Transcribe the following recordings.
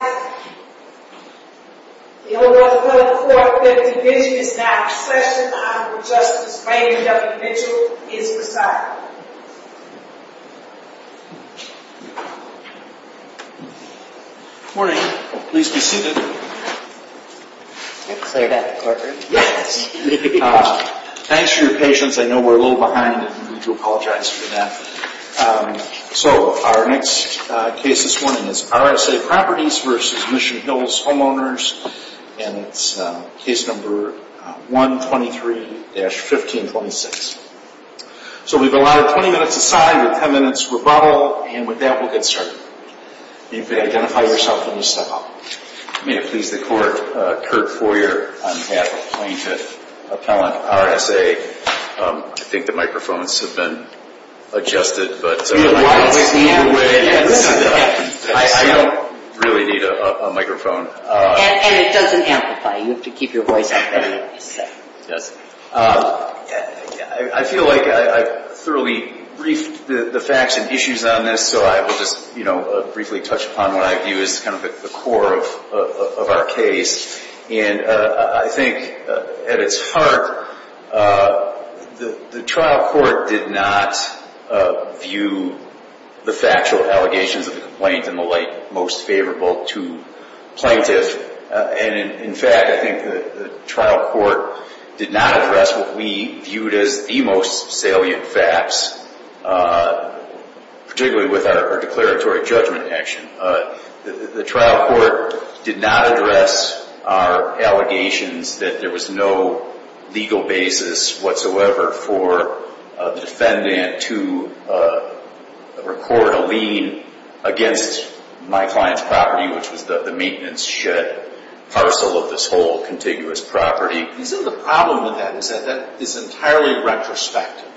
The O.11245 division is now in session. Honorable Justice Raymond W. Mitchell is presiding. Good morning. Please be seated. Thanks for your patience. I know we're a little behind and we do apologize for that. So our next case this morning is RSA Properties v. Mission Hills Homeowners and it's case number 123-1526. So we've allotted 20 minutes aside with 10 minutes rebuttal and with that we'll get started. You may identify yourself when you step up. May it please the Court, Kurt Foyer, I'm half-appointed appellant RSA. I think the microphones have been adjusted, but I don't really need a microphone. And it doesn't amplify. You have to keep your voice up. Yes. I feel like I've thoroughly briefed the facts and issues on this, so I will just briefly touch upon what I view as kind of the core of our case. And I think at its heart, the trial court did not view the factual allegations of the complaint in the light most favorable to plaintiffs. And in fact, I think the trial court did not address what we viewed as the most salient facts, particularly with our declaratory judgment action. The trial court did not address our allegations that there was no legal basis whatsoever for the defendant to record a lien against my client's property, which was the maintenance shed parcel of this whole contiguous property. Isn't the problem with that is that that is entirely retrospective,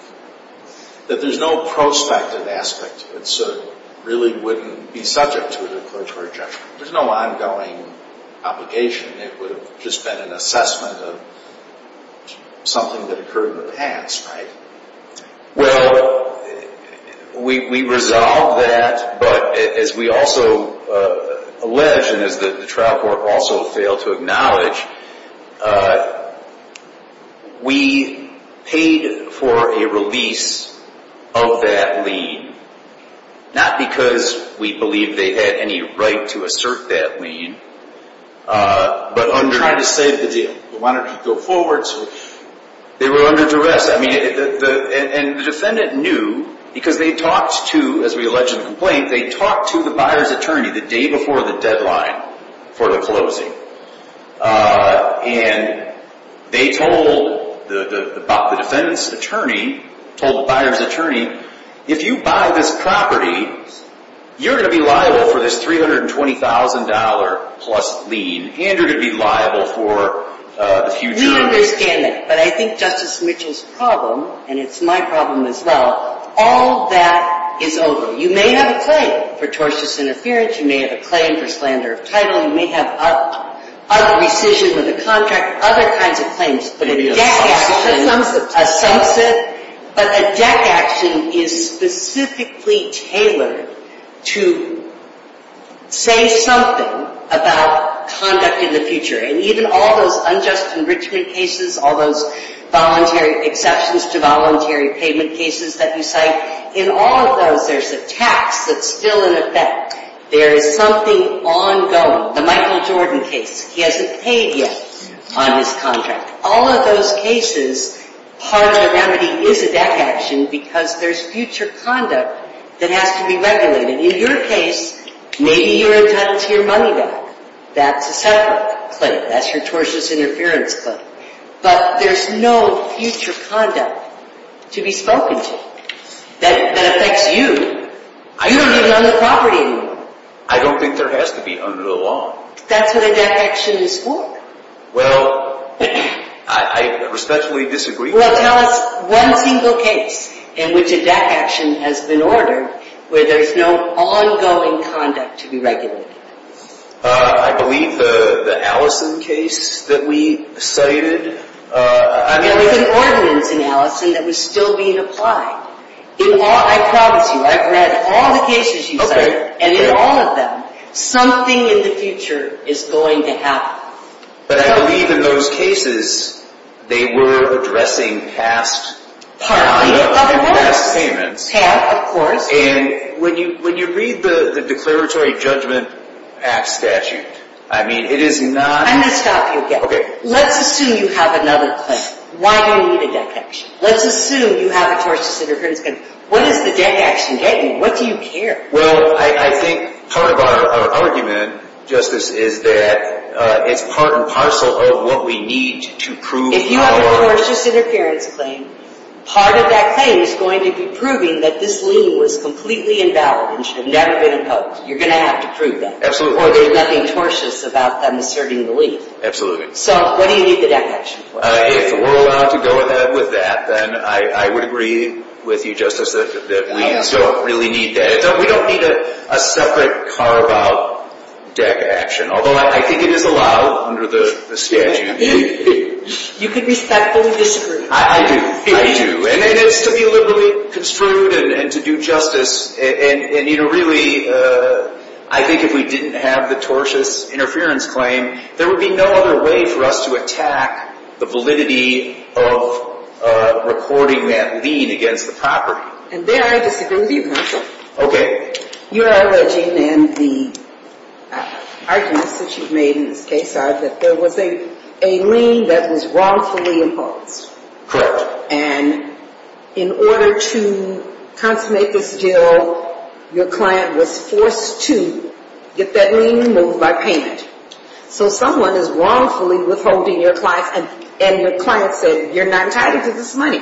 that there's no prospective aspect to it, so it really wouldn't be subject to a declaratory judgment. There's no ongoing obligation. It would have just been an assessment of something that occurred in the past, right? Well, we resolved that, but as we also alleged, and as the trial court also failed to acknowledge, we paid for a release of that lien, not because we believe they had any right to assert that lien, but on trying to save the deal. We wanted to go forward, so they were under duress. And the defendant knew because they talked to, as we alleged in the complaint, they talked to the buyer's attorney the day before the deadline for the closing. And they told the defendant's attorney, told the buyer's attorney, if you buy this property, you're going to be liable for this $320,000 plus lien, and you're going to be liable for the future. We understand that. But I think Justice Mitchell's problem, and it's my problem as well, all that is over. You may have a claim for tortious interference. You may have a claim for slander of title. You may have a rescission of the contract, other kinds of claims. But a deck action is specifically tailored to say something about conduct in the future. And even all those unjust enrichment cases, all those voluntary exceptions to voluntary payment cases that you cite, in all of those there's a tax that's still in effect. There is something ongoing. The Michael Jordan case, he hasn't paid yet on his contract. All of those cases, part of the remedy is a deck action because there's future conduct that has to be regulated. In your case, maybe you're entitled to your money back. That's a separate claim. That's your tortious interference claim. But there's no future conduct to be spoken to that affects you. You don't even own the property anymore. I don't think there has to be under the law. That's what a deck action is for. Well, I respectfully disagree. Well, tell us one single case in which a deck action has been ordered where there's no ongoing conduct to be regulated. I believe the Allison case that we cited. There was an ordinance in Allison that was still being applied. I promise you, I've read all the cases you cited, and in all of them, something in the future is going to happen. But I believe in those cases, they were addressing past payments. They have, of course. And when you read the Declaratory Judgment Act statute, I mean, it is not... I'm going to stop you again. Okay. Let's assume you have another claim. Why do you need a deck action? Let's assume you have a tortious interference claim. What does the deck action get you? What do you care? Well, I think part of our argument, Justice, is that it's part and parcel of what we need to prove... Part of that claim is going to be proving that this lien was completely invalid and should have never been imposed. You're going to have to prove that. Absolutely. Or there's nothing tortious about them asserting the lien. Absolutely. So what do you need the deck action for? If we're allowed to go with that, then I would agree with you, Justice, that we don't really need that. We don't need a separate carve-out deck action, although I think it is allowed under the statute. You could respectfully disagree. I do. I do. And it's to be liberally construed and to do justice. And, you know, really, I think if we didn't have the tortious interference claim, there would be no other way for us to attack the validity of reporting that lien against the property. And there I disagree with you, Counsel. Okay. Your alleging and the arguments that you've made in this case are that there was a lien that was wrongfully imposed. Correct. And in order to consummate this deal, your client was forced to get that lien removed by payment. So someone is wrongfully withholding your client, and your client said you're not entitled to this money.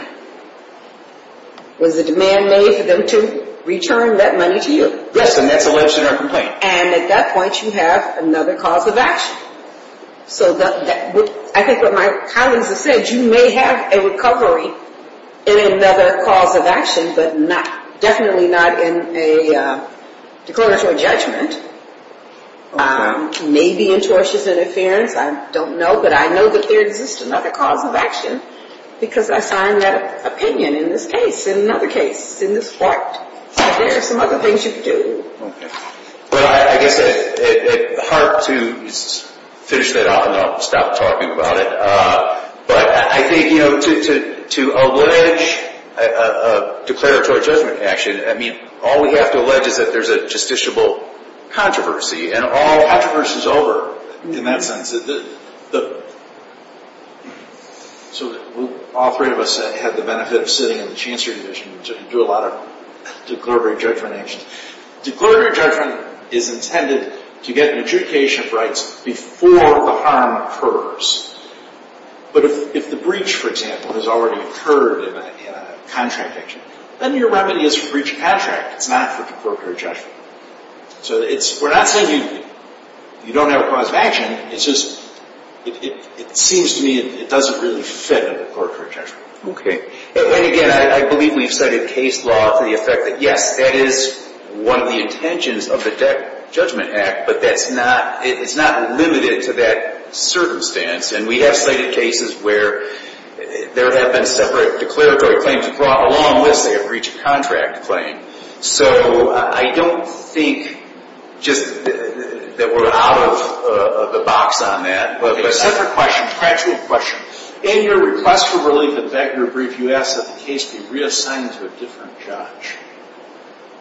Was the demand made for them to return that money to you? Yes, and that's alleged in our complaint. And at that point, you have another cause of action. So I think what my colleagues have said, you may have a recovery in another cause of action, but definitely not in a declaratory judgment. Maybe in tortious interference, I don't know, but I know that there exists another cause of action because I signed that opinion in this case, in another case, in this court. There are some other things you could do. Well, I guess it's hard to finish that off and then I'll stop talking about it. But I think, you know, to allege a declaratory judgment action, I mean, all we have to allege is that there's a justiciable controversy, and all controversy is over in that sense. So all three of us had the benefit of sitting in the Chancery Division to do a lot of declaratory judgment actions. Declaratory judgment is intended to get an adjudication of rights before the harm occurs. But if the breach, for example, has already occurred in a contract action, then your remedy is for breach of contract. It's not for declaratory judgment. So we're not saying you don't have a cause of action. It's just it seems to me it doesn't really fit in the court for judgment. Okay. And again, I believe we've cited case law for the effect that, yes, that is one of the intentions of the Debt Judgment Act, but it's not limited to that circumstance. And we have cited cases where there have been separate declaratory claims brought along with, say, a breach of contract claim. So I don't think just that we're out of the box on that. Separate question, gradual question. In your request for relief, in fact, your brief, you asked that the case be reassigned to a different judge.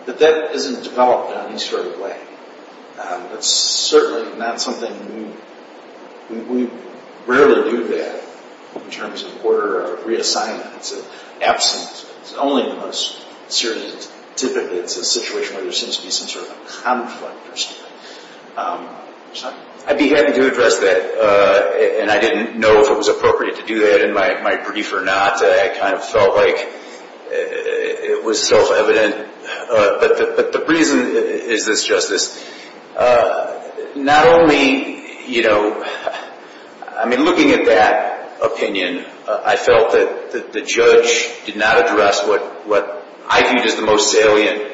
That that isn't developed in any sort of way. That's certainly not something we rarely do that in terms of order of reassignment. It's an absence. It's only the most serious. Typically it's a situation where there seems to be some sort of a conflict or something. I'd be happy to address that. And I didn't know if it was appropriate to do that in my brief or not. I kind of felt like it was self-evident. But the reason is this, Justice. Not only, you know, I mean, looking at that opinion, I felt that the judge did not address what I viewed as the most salient.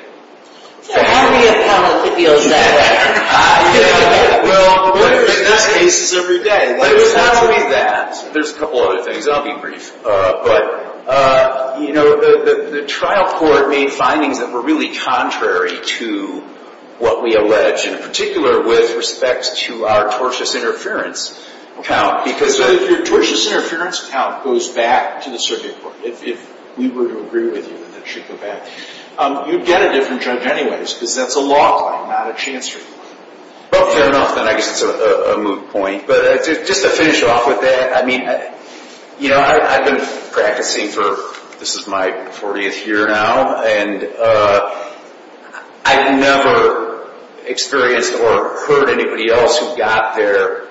So how do we have power to feel that way? Well, what are the best cases of your day? What is not to be that? There's a couple other things. I'll be brief. But, you know, the trial court made findings that were really contrary to what we allege, in particular with respect to our tortious interference count. Because if your tortious interference count goes back to the circuit court, if we were to agree with you that it should go back, you'd get a different judge anyways because that's a law claim, not a chance report. Well, fair enough. Then I guess it's a moot point. But just to finish off with that, I mean, you know, I've been practicing for, this is my 40th year now, and I've never experienced or heard anybody else who got their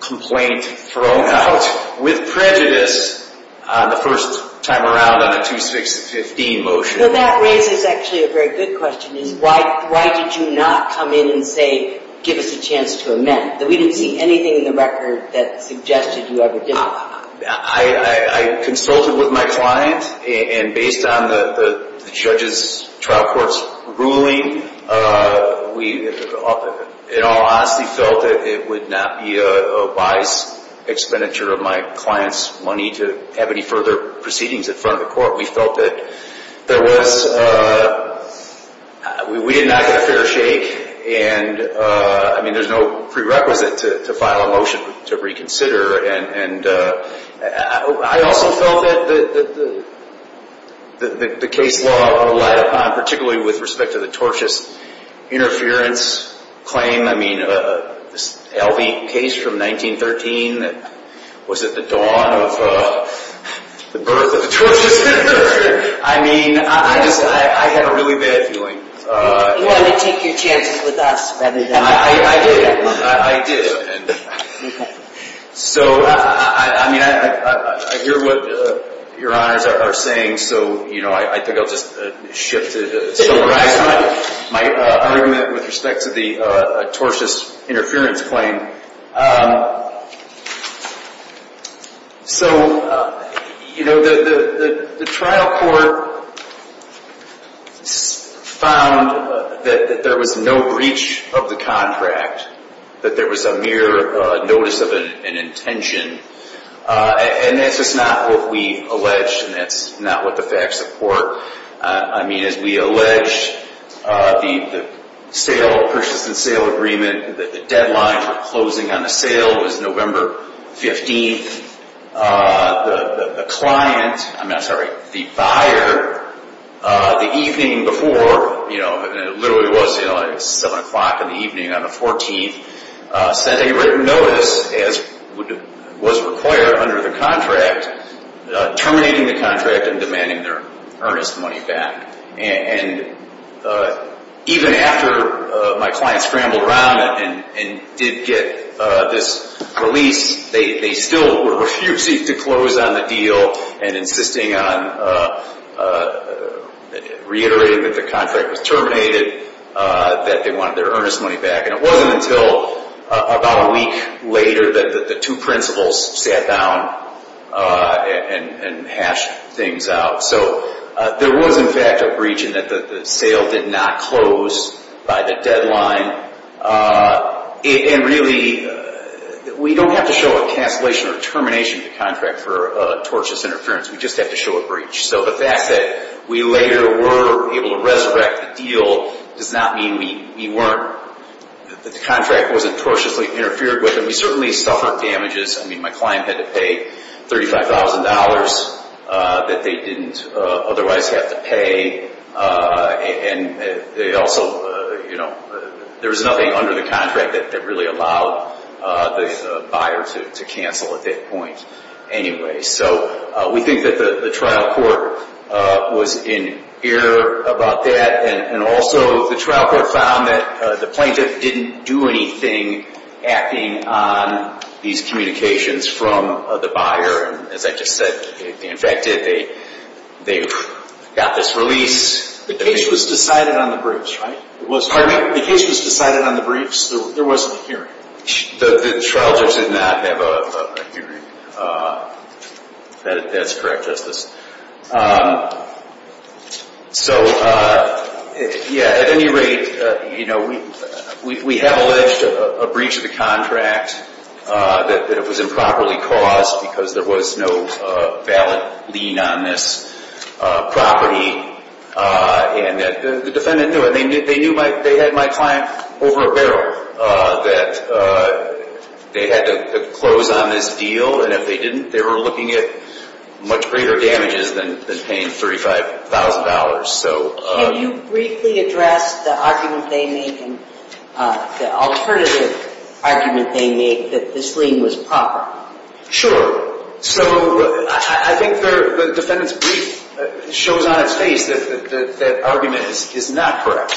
complaint thrown out with prejudice the first time around on a 2-6-15 motion. Well, that raises actually a very good question. Why did you not come in and say, give us a chance to amend? We didn't see anything in the record that suggested you ever did. I consulted with my client, and based on the judge's trial court's ruling, we in all honesty felt that it would not be a wise expenditure of my client's money to have any further proceedings in front of the court. We felt that there was, we did not get a fair shake, and I mean, there's no prerequisite to file a motion to reconsider. And I also felt that the case law relied upon, particularly with respect to the tortious interference claim. I mean, this L.B. case from 1913 was at the dawn of the birth of the tortious interference. I mean, I just, I had a really bad feeling. You want to take your chances with us rather than the court. I do. I do. Okay. So, I mean, I hear what your honors are saying, so, you know, I think I'll just shift to my argument with respect to the tortious interference claim. Okay. So, you know, the trial court found that there was no breach of the contract, that there was a mere notice of an intention. And that's just not what we allege, and that's not what the facts support. I mean, as we allege, the purchase and sale agreement, the deadline for closing on the sale was November 15th. The client, I'm sorry, the buyer, the evening before, you know, and it literally was 7 o'clock in the evening on the 14th, sent a written notice, as was required under the contract, terminating the contract and demanding their earnest money back. And even after my client scrambled around and did get this release, they still were refusing to close on the deal and insisting on reiterating that the contract was terminated, that they wanted their earnest money back. And it wasn't until about a week later that the two principals sat down and hashed things out. So there was, in fact, a breach in that the sale did not close by the deadline. And really, we don't have to show a cancellation or termination of the contract for tortious interference. We just have to show a breach. So the fact that we later were able to resurrect the deal does not mean we weren't, that the contract wasn't tortiously interfered with. And we certainly suffered damages. I mean, my client had to pay $35,000 that they didn't otherwise have to pay. And they also, you know, there was nothing under the contract that really allowed the buyer to cancel at that point. Anyway, so we think that the trial court was in error about that. And also, the trial court found that the plaintiff didn't do anything acting on these communications from the buyer. And as I just said, they infected, they got this release. The case was decided on the briefs, right? Pardon me? The case was decided on the briefs. There wasn't a hearing. The trial judge did not have a hearing. That's correct, Justice. So, yeah, at any rate, you know, we have alleged a breach of the contract, that it was improperly caused because there was no valid lien on this property. And the defendant knew it. They knew they had my client over a barrel, that they had to close on this deal. And if they didn't, they were looking at much greater damages than paying $35,000. Can you briefly address the argument they make and the alternative argument they make that this lien was proper? Sure. So, I think the defendant's brief shows on its face that that argument is not correct.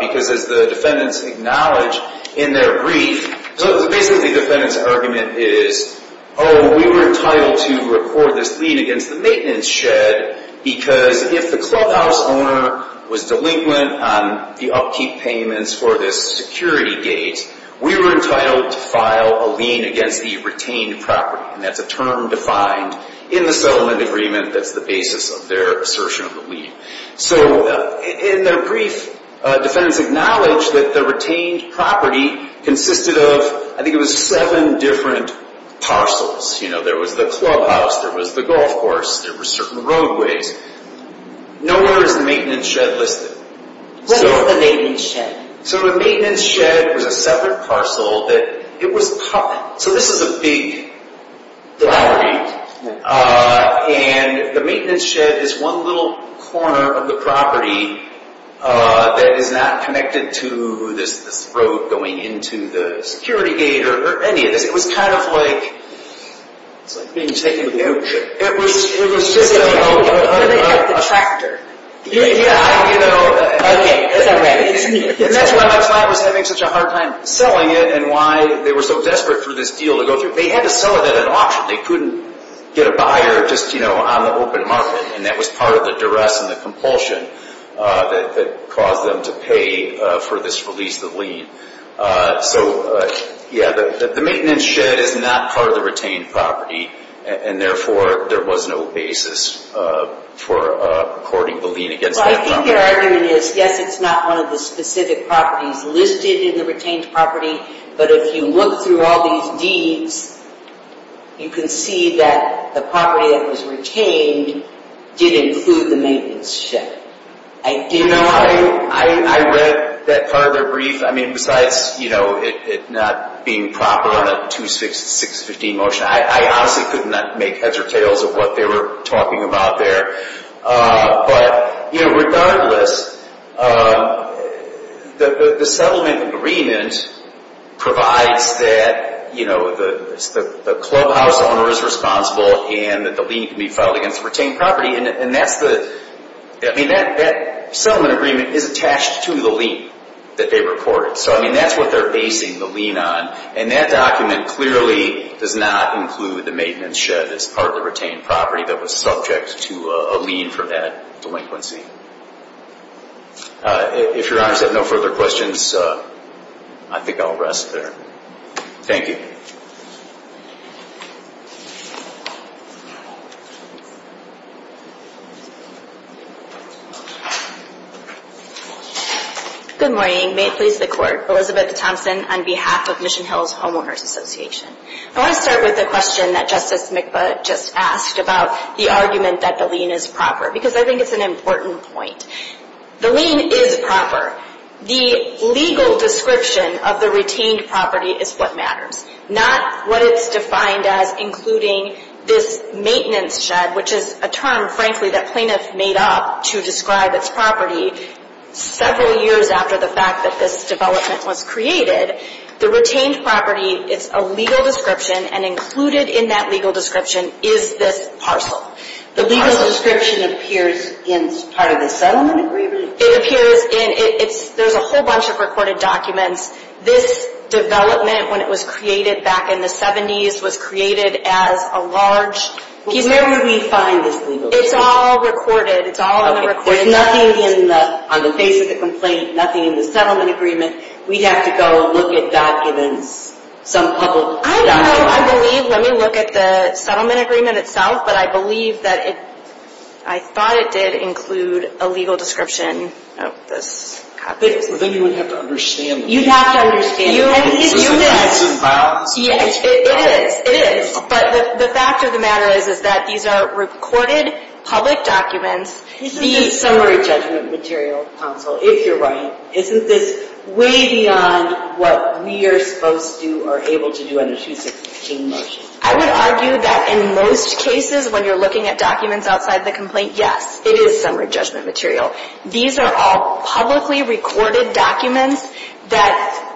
Because as the defendants acknowledge in their brief, so basically the defendant's argument is, oh, we were entitled to record this lien against the maintenance shed because if the clubhouse owner was delinquent on the upkeep payments for this security gate, we were entitled to file a lien against the retained property. And that's a term defined in the settlement agreement that's the basis of their assertion of the lien. So, in their brief, defendants acknowledge that the retained property consisted of, I think it was seven different parcels. You know, there was the clubhouse, there was the golf course, there were certain roadways. Nowhere is the maintenance shed listed. What about the maintenance shed? So, the maintenance shed was a separate parcel. So, this is a big gallery. And the maintenance shed is one little corner of the property that is not connected to this road going into the security gate or any of this. It was kind of like... It's like being taken to the outskirts. It was just a... Like a tractor. Okay, that's all right. And that's why my client was having such a hard time selling it and why they were so desperate for this deal to go through. They had to sell it at an auction. They couldn't get a buyer just, you know, on the open market. And that was part of the duress and the compulsion that caused them to pay for this release of the lien. So, yeah, the maintenance shed is not part of the retained property. And therefore, there was no basis for courting the lien against that property. Well, I think their argument is, yes, it's not one of the specific properties listed in the retained property. But if you look through all these deeds, you can see that the property that was retained did include the maintenance shed. You know, I read that part of their brief. I mean, besides, you know, it not being proper on a 2-6-6-15 motion. I honestly could not make heads or tails of what they were talking about there. But, you know, regardless, the settlement agreement provides that, you know, the clubhouse owner is responsible and that the lien can be filed against the retained property. And that's the – I mean, that settlement agreement is attached to the lien that they reported. So, I mean, that's what they're basing the lien on. And that document clearly does not include the maintenance shed as part of the retained property that was subject to a lien for that delinquency. If Your Honors have no further questions, I think I'll rest there. Thank you. Good morning. May it please the Court. Elizabeth Thompson on behalf of Mission Hills Homeowners Association. I want to start with the question that Justice Mikba just asked about the argument that the lien is proper. Because I think it's an important point. The lien is proper. The legal description of the retained property is what matters. Not what it's defined as including this maintenance shed, which is a term, frankly, that plaintiff made up to describe its property. Several years after the fact that this development was created, the retained property, it's a legal description. And included in that legal description is this parcel. The legal description appears in part of the settlement agreement? It appears in – it's – there's a whole bunch of recorded documents. This development, when it was created back in the 70s, was created as a large piece of – Where would we find this legal description? It's all recorded. It's all in the recording. There's nothing in the – on the face of the complaint, nothing in the settlement agreement. We'd have to go look at documents, some public documents. I know. I believe – let me look at the settlement agreement itself. But I believe that it – I thought it did include a legal description of this property. But then you would have to understand the – You'd have to understand it. And it's human. It's a balance. It is. It is. But the fact of the matter is, is that these are recorded public documents. Isn't this summary judgment material, counsel, if you're right? Isn't this way beyond what we are supposed to or able to do under 216 motion? I would argue that in most cases, when you're looking at documents outside the complaint, yes, it is summary judgment material. These are all publicly recorded documents that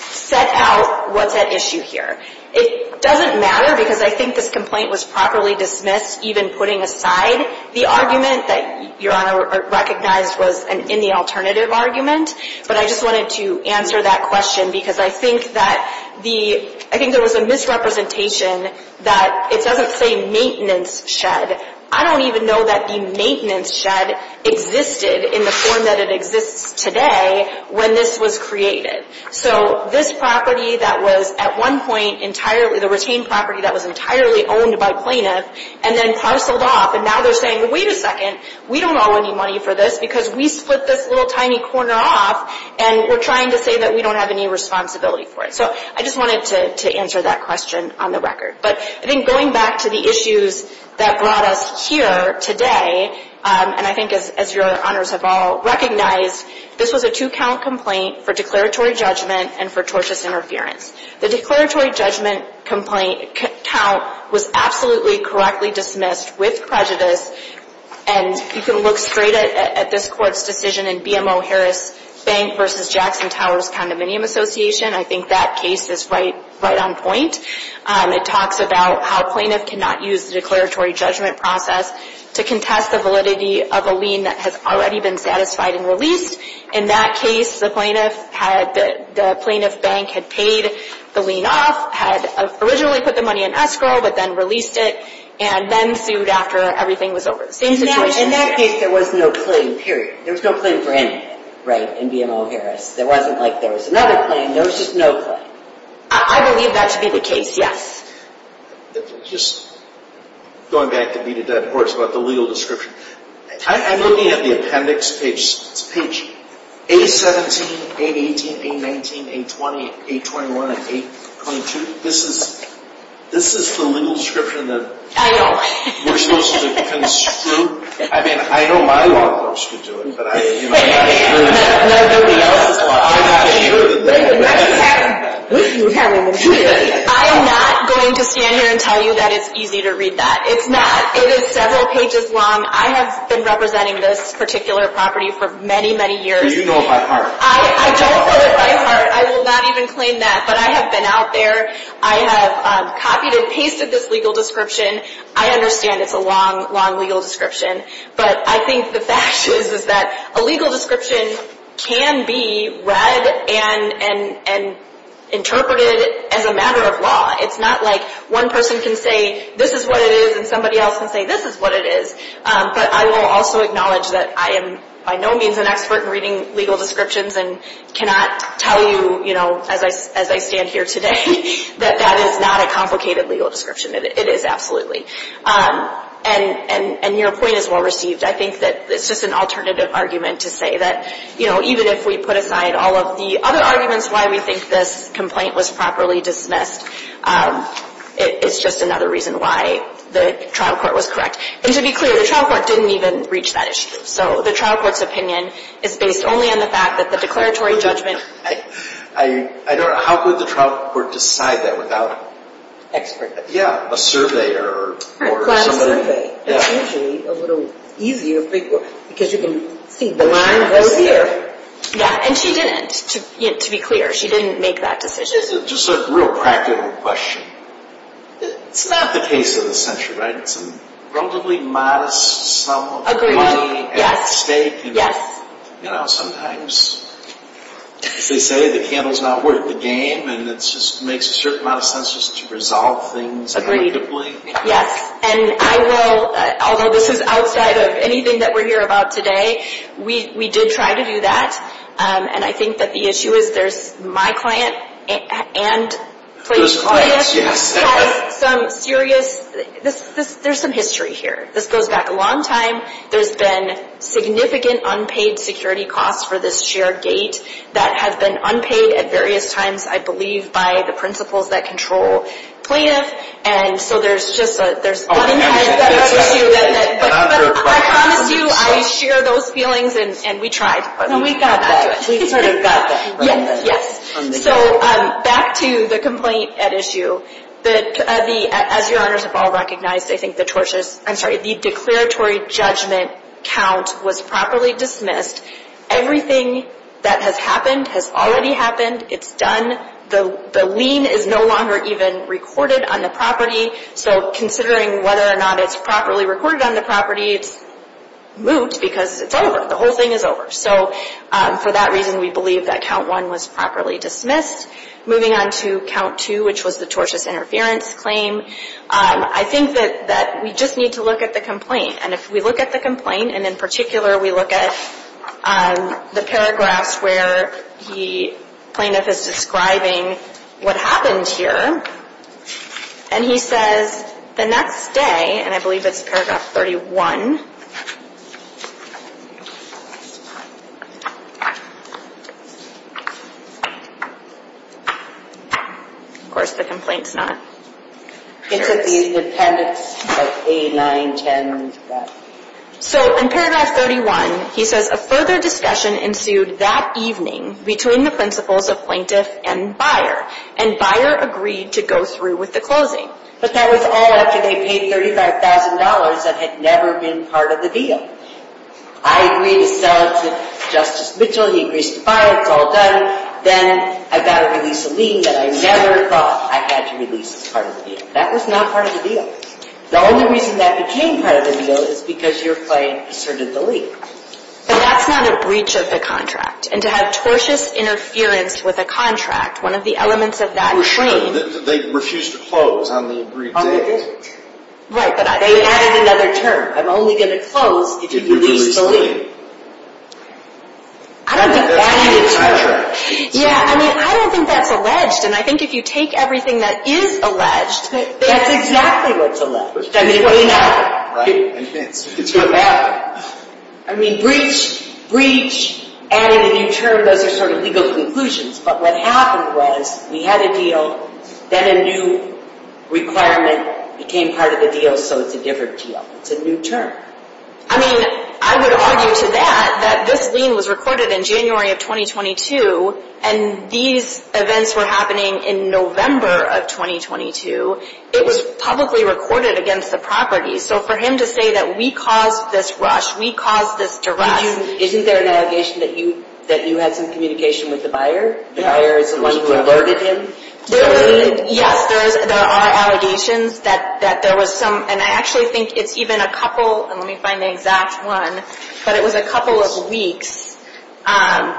set out what's at issue here. It doesn't matter because I think this complaint was properly dismissed, even putting aside the argument that Your Honor recognized was in the alternative argument. But I just wanted to answer that question because I think that the – I think there was a misrepresentation that it doesn't say maintenance shed. I don't even know that the maintenance shed existed in the form that it exists today when this was created. So this property that was at one point entirely – the retained property that was entirely owned by plaintiff and then parceled off, and now they're saying, wait a second, we don't owe any money for this because we split this little tiny corner off, and we're trying to say that we don't have any responsibility for it. So I just wanted to answer that question on the record. But I think going back to the issues that brought us here today, and I think as Your Honors have all recognized, this was a two-count complaint for declaratory judgment and for tortious interference. The declaratory judgment complaint count was absolutely correctly dismissed with prejudice, and you can look straight at this Court's decision in BMO Harris Bank v. Jackson Towers Condominium Association. I think that case is right on point. It talks about how plaintiff cannot use the declaratory judgment process to contest the validity of a lien that has already been satisfied and released. In that case, the plaintiff bank had paid the lien off, had originally put the money in escrow, but then released it, and then sued after everything was over. In that case, there was no claim, period. There was no claim for anything, right, in BMO Harris. It wasn't like there was another claim. There was just no claim. I believe that to be the case, yes. Just going back to B to D, of course, about the legal description. I'm looking at the appendix page. It's page 817, 818, 819, 820, 821, and 822. This is the legal description that we're supposed to construe. I mean, I know my law clerks could do it, but I'm not sure that they would. I am not going to stand here and tell you that it's easy to read that. It's not. It is several pages long. I have been representing this particular property for many, many years. Do you know it by heart? I don't know it by heart. I will not even claim that. But I have been out there. I have copied and pasted this legal description. I understand it's a long, long legal description. But I think the fact is that a legal description can be read and interpreted as a matter of law. It's not like one person can say this is what it is and somebody else can say this is what it is. But I will also acknowledge that I am by no means an expert in reading legal descriptions and cannot tell you as I stand here today that that is not a complicated legal description. It is absolutely. And your point is well received. I think that it's just an alternative argument to say that, you know, even if we put aside all of the other arguments why we think this complaint was properly dismissed, it's just another reason why the trial court was correct. And to be clear, the trial court didn't even reach that issue. So the trial court's opinion is based only on the fact that the declaratory judgment I don't know. How could the trial court decide that without an expert? Yeah, a surveyor or somebody. It's usually a little easier for people because you can see the line goes here. Yeah, and she didn't, to be clear. She didn't make that decision. Just a real practical question. It's not the case of the century, right? It's a relatively modest sum of money at stake. Yes. You know, sometimes they say the candle's not worth the game, and it just makes a certain amount of sense just to resolve things collectively. Yes. And I will, although this is outside of anything that we're here about today, we did try to do that. And I think that the issue is there's my client and plaintiff has some serious, there's some history here. This goes back a long time. There's been significant unpaid security costs for this share gate that have been unpaid at various times, I believe, by the principals that control plaintiff. And so there's just a, there's butt and head at issue. But I promise you I share those feelings, and we tried. And we got that. We sort of got that. Yes. So back to the complaint at issue. As your honors have all recognized, I think the tortures, I'm sorry, the declaratory judgment count was properly dismissed. Everything that has happened has already happened. It's done. The lien is no longer even recorded on the property. So considering whether or not it's properly recorded on the property, it's moot because it's over. The whole thing is over. So for that reason, we believe that count one was properly dismissed. Moving on to count two, which was the tortious interference claim, I think that we just need to look at the complaint. And if we look at the complaint, and in particular we look at the paragraphs where the plaintiff is describing what happened here, and he says, the next day, and I believe it's paragraph 31. Of course, the complaint's not. It's at the appendix of A910. So in paragraph 31, he says, a further discussion ensued that evening between the principals of plaintiff and buyer, and buyer agreed to go through with the closing. But that was all after they paid $35,000 that had never been part of the deal. I agreed to sell it to Justice Mitchell. He agrees to file. It's all done. Then I've got to release a lien that I never thought I had to release as part of the deal. That was not part of the deal. The only reason that became part of the deal is because your claim asserted the lien. But that's not a breach of the contract. And to have tortious interference with a contract, one of the elements of that claim They refused to close on the agreed date. Right, but they added another term. I'm only going to close if you release the lien. I don't think that's alleged, and I think if you take everything that is alleged, that's exactly what's alleged. I mean, what do you know? Right. I mean, breach, added a new term, those are sort of legal conclusions. But what happened was we had a deal, then a new requirement became part of the deal, so it's a different deal. It's a new term. I mean, I would argue to that that this lien was recorded in January of 2022, and these events were happening in November of 2022. It was publicly recorded against the property. So for him to say that we caused this rush, we caused this duress. Isn't there an allegation that you had some communication with the buyer? The buyer is the one who alerted him? Yes, there are allegations that there was some, and I actually think it's even a couple, let me find the exact one, but it was a couple of weeks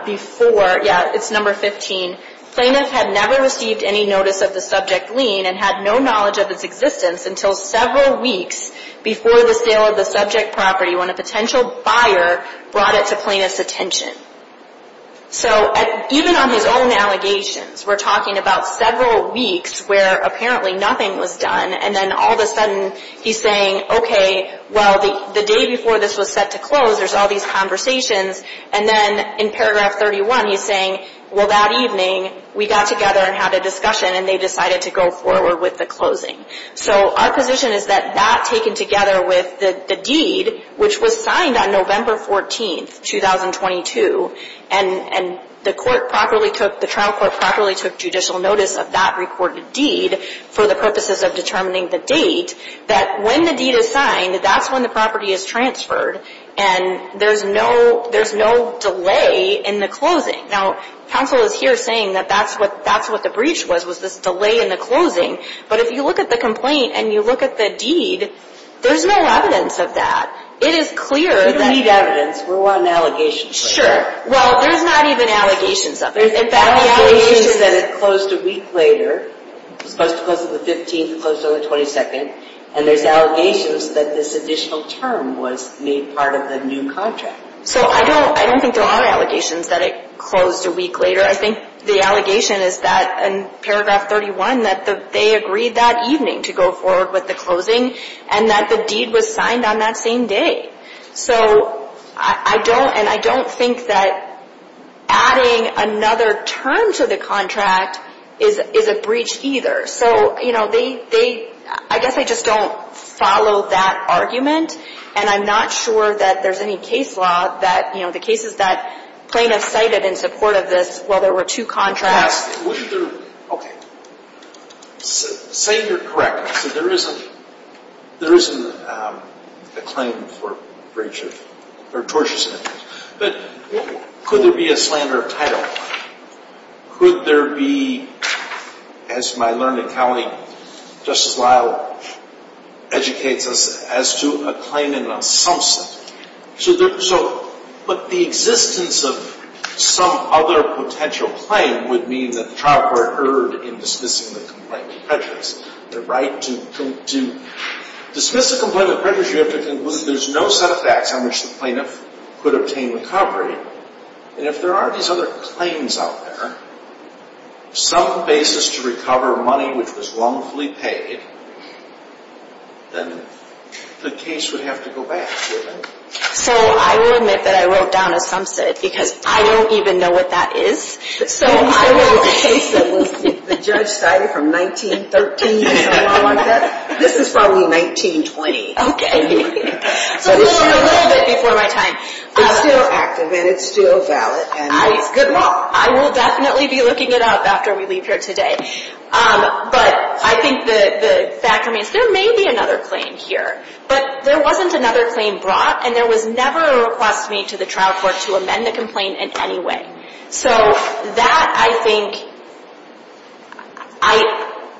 before, yeah, it's number 15, plaintiff had never received any notice of the subject lien and had no knowledge of its existence until several weeks before the sale of the subject property when a potential buyer brought it to plaintiff's attention. So even on his own allegations, we're talking about several weeks where apparently nothing was done, and then all of a sudden he's saying, okay, well, the day before this was set to close, there's all these conversations, and then in paragraph 31 he's saying, well, that evening we got together and had a discussion, and they decided to go forward with the closing. So our position is that that taken together with the deed, which was signed on November 14, 2022, and the trial court properly took judicial notice of that recorded deed for the purposes of determining the date, that when the deed is signed, that's when the property is transferred, and there's no delay in the closing. Now, counsel is here saying that that's what the breach was, was this delay in the closing, but if you look at the complaint and you look at the deed, there's no evidence of that. It is clear that... We don't need evidence. We're on allegations right now. Sure. Well, there's not even allegations of it. There's allegations that it closed a week later. It was supposed to close on the 15th. It closed on the 22nd, and there's allegations that this additional term was made part of the new contract. So I don't think there are allegations that it closed a week later. I think the allegation is that in paragraph 31 that they agreed that evening to go forward with the closing and that the deed was signed on that same day. So I don't, and I don't think that adding another term to the contract is a breach either. So, you know, I guess I just don't follow that argument, and I'm not sure that there's any case law that, you know, in the cases that plaintiffs cited in support of this, while there were two contracts. Okay. Say you're correct. So there is a claim for breach of, or torture sentence. But could there be a slander of title? Could there be, as my learned accounting, Justice Lyle educates us as to a claim in some sense. So, but the existence of some other potential claim would mean that the trial court erred in dismissing the complainant prejudice. The right to dismiss a complainant prejudice, you have to conclude that there's no set of facts on which the plaintiff could obtain recovery. And if there are these other claims out there, some basis to recover money which was wrongfully paid, then the case would have to go back, wouldn't it? So I will admit that I wrote down a sumset, because I don't even know what that is. So I wrote a case that was, the judge cited from 1913, something along like that. This is probably 1920. So we're a little bit before my time. It's still active, and it's still valid, and it's good law. I will definitely be looking it up after we leave here today. But I think the fact remains, there may be another claim here. But there wasn't another claim brought, and there was never a request made to the trial court to amend the complaint in any way. So that, I think, I,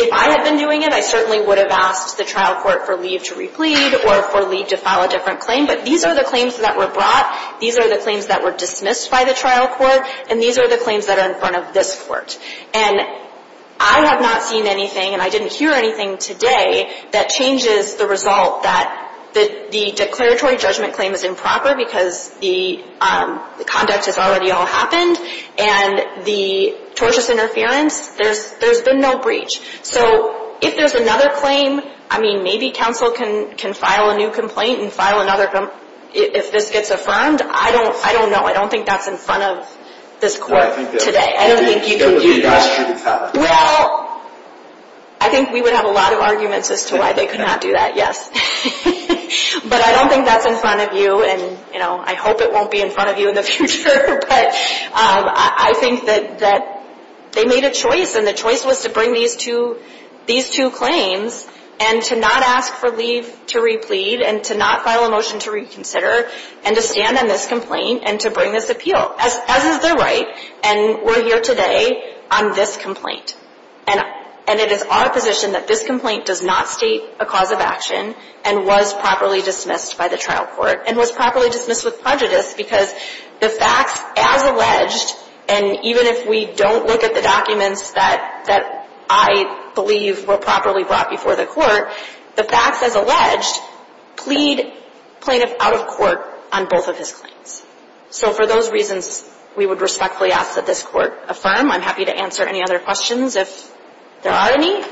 if I had been doing it, I certainly would have asked the trial court for leave to replead or for leave to file a different claim. But these are the claims that were brought. These are the claims that were dismissed by the trial court. And these are the claims that are in front of this court. And I have not seen anything, and I didn't hear anything today, that changes the result that the declaratory judgment claim is improper, because the conduct has already all happened, and the tortious interference, there's been no breach. So if there's another claim, I mean, maybe counsel can file a new complaint and file another, if this gets affirmed. I don't know. I don't think that's in front of this court today. I don't think you can do that. Well, I think we would have a lot of arguments as to why they could not do that, yes. But I don't think that's in front of you, and, you know, I hope it won't be in front of you in the future. But I think that they made a choice, and the choice was to bring these two claims and to not ask for leave to replead and to not file a motion to reconsider and to stand on this complaint and to bring this appeal, as is their right. And we're here today on this complaint. And it is our position that this complaint does not state a cause of action and was properly dismissed by the trial court and was properly dismissed with prejudice, because the facts, as alleged, and even if we don't look at the documents that I believe were properly brought before the court, the facts, as alleged, plead plaintiff out of court on both of his claims. So for those reasons, we would respectfully ask that this court affirm. I'm happy to answer any other questions if there are any.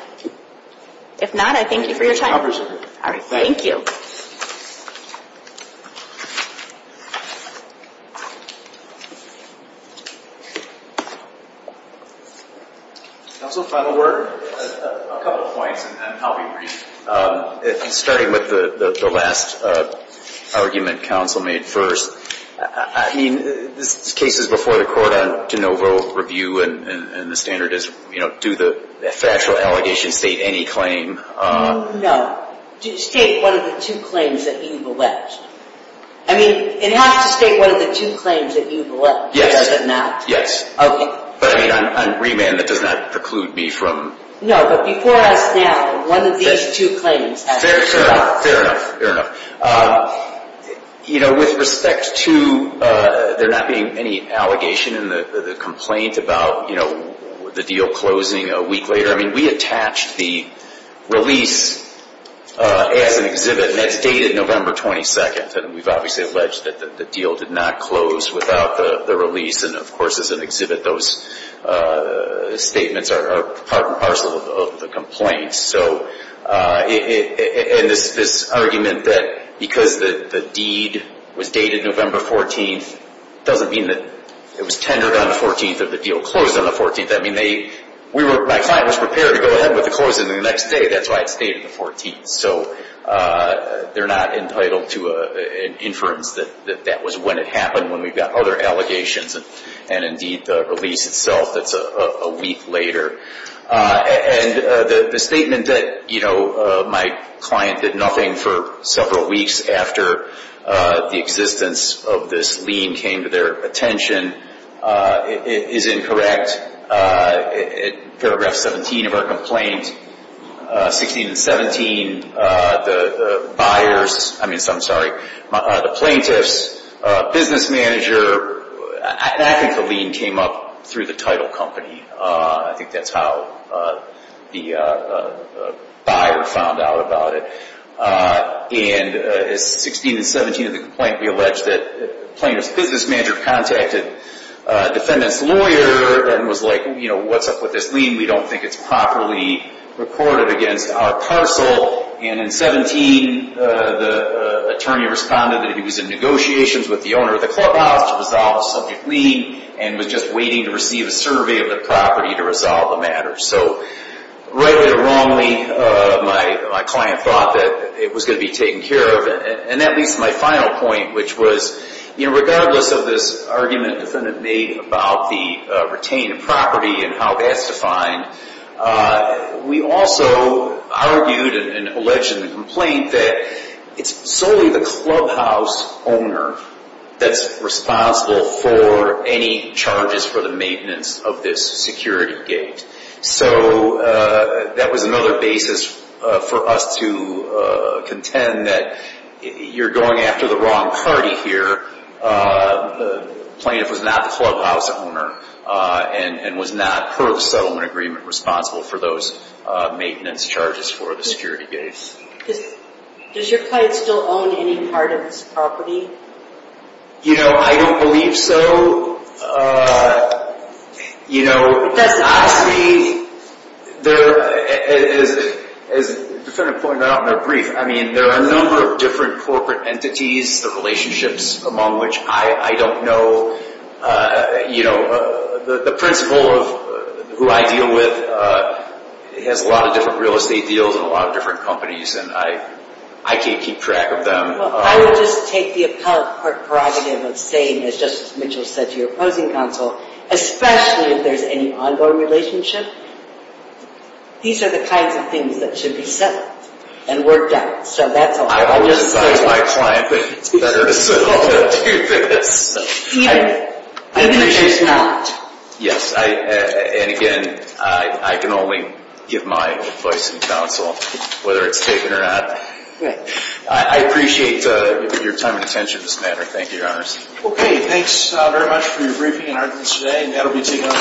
If not, I thank you for your time. I appreciate it. All right. Thank you. Counsel, final word? A couple of points, and then I'll be brief. Starting with the last argument counsel made first, I mean, this case is before the court on de novo review, and the standard is, you know, do the factual allegations state any claim? No. State one of the two claims that you've alleged. I mean, it has to state one of the two claims that you've alleged. Yes. Does it not? Yes. Okay. But, I mean, on remand, that does not preclude me from. No, but before us now, one of these two claims. Fair enough. Fair enough. You know, with respect to there not being any allegation in the complaint about, you know, the deal closing a week later, I mean, we attached the release as an exhibit, and that's dated November 22nd, and we've obviously alleged that the deal did not close without the release, and, of course, as an exhibit, those statements are part and parcel of the complaint. So, and this argument that because the deed was dated November 14th doesn't mean that it was tendered on the 14th or the deal closed on the 14th. I mean, my client was prepared to go ahead with the closing the next day. That's why it's dated the 14th. So they're not entitled to an inference that that was when it happened when we got other allegations, and, indeed, the release itself that's a week later. And the statement that, you know, my client did nothing for several weeks after the existence of this lien came to their attention is incorrect. In paragraph 17 of our complaint, 16 and 17, the buyers, I mean, I'm sorry, the plaintiff's business manager, I think the lien came up through the title company. I think that's how the buyer found out about it. And as 16 and 17 of the complaint, we allege that the plaintiff's business manager contacted the defendant's lawyer and was like, you know, what's up with this lien? We don't think it's properly recorded against our parcel. And in 17, the attorney responded that he was in negotiations with the owner of the clubhouse to resolve the subject lien and was just waiting to receive a survey of the property to resolve the matter. So, rightly or wrongly, my client thought that it was going to be taken care of. And that leads to my final point, which was, you know, regardless of this argument the defendant made about the retained property and how that's defined, we also argued and alleged in the complaint that it's solely the clubhouse owner that's responsible for any charges for the maintenance of this security gate. So, that was another basis for us to contend that you're going after the wrong party here. The plaintiff was not the clubhouse owner and was not, per the settlement agreement, responsible for those maintenance charges for the security gates. Does your client still own any part of this property? You know, I don't believe so. You know, obviously, as the defendant pointed out in her brief, I mean, there are a number of different corporate entities, the relationships among which I don't know. You know, the principal of who I deal with has a lot of different real estate deals and a lot of different companies and I can't keep track of them. Well, I would just take the appellate part prerogative of saying, as Justice Mitchell said to your opposing counsel, especially if there's any ongoing relationship, these are the kinds of things that should be settled and worked out. So, that's all. I would advise my client that it's better to settle than to do this. Even if there's not. Yes, and again, I can only give my advice to counsel, whether it's taken or not. Right. I appreciate your time and attention in this matter. Thank you, Your Honor. Okay. Thanks very much for your briefing and evidence today. That will be taken as an advisement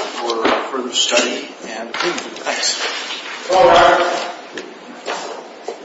for further study. Thanks. Goodbye, Your Honor.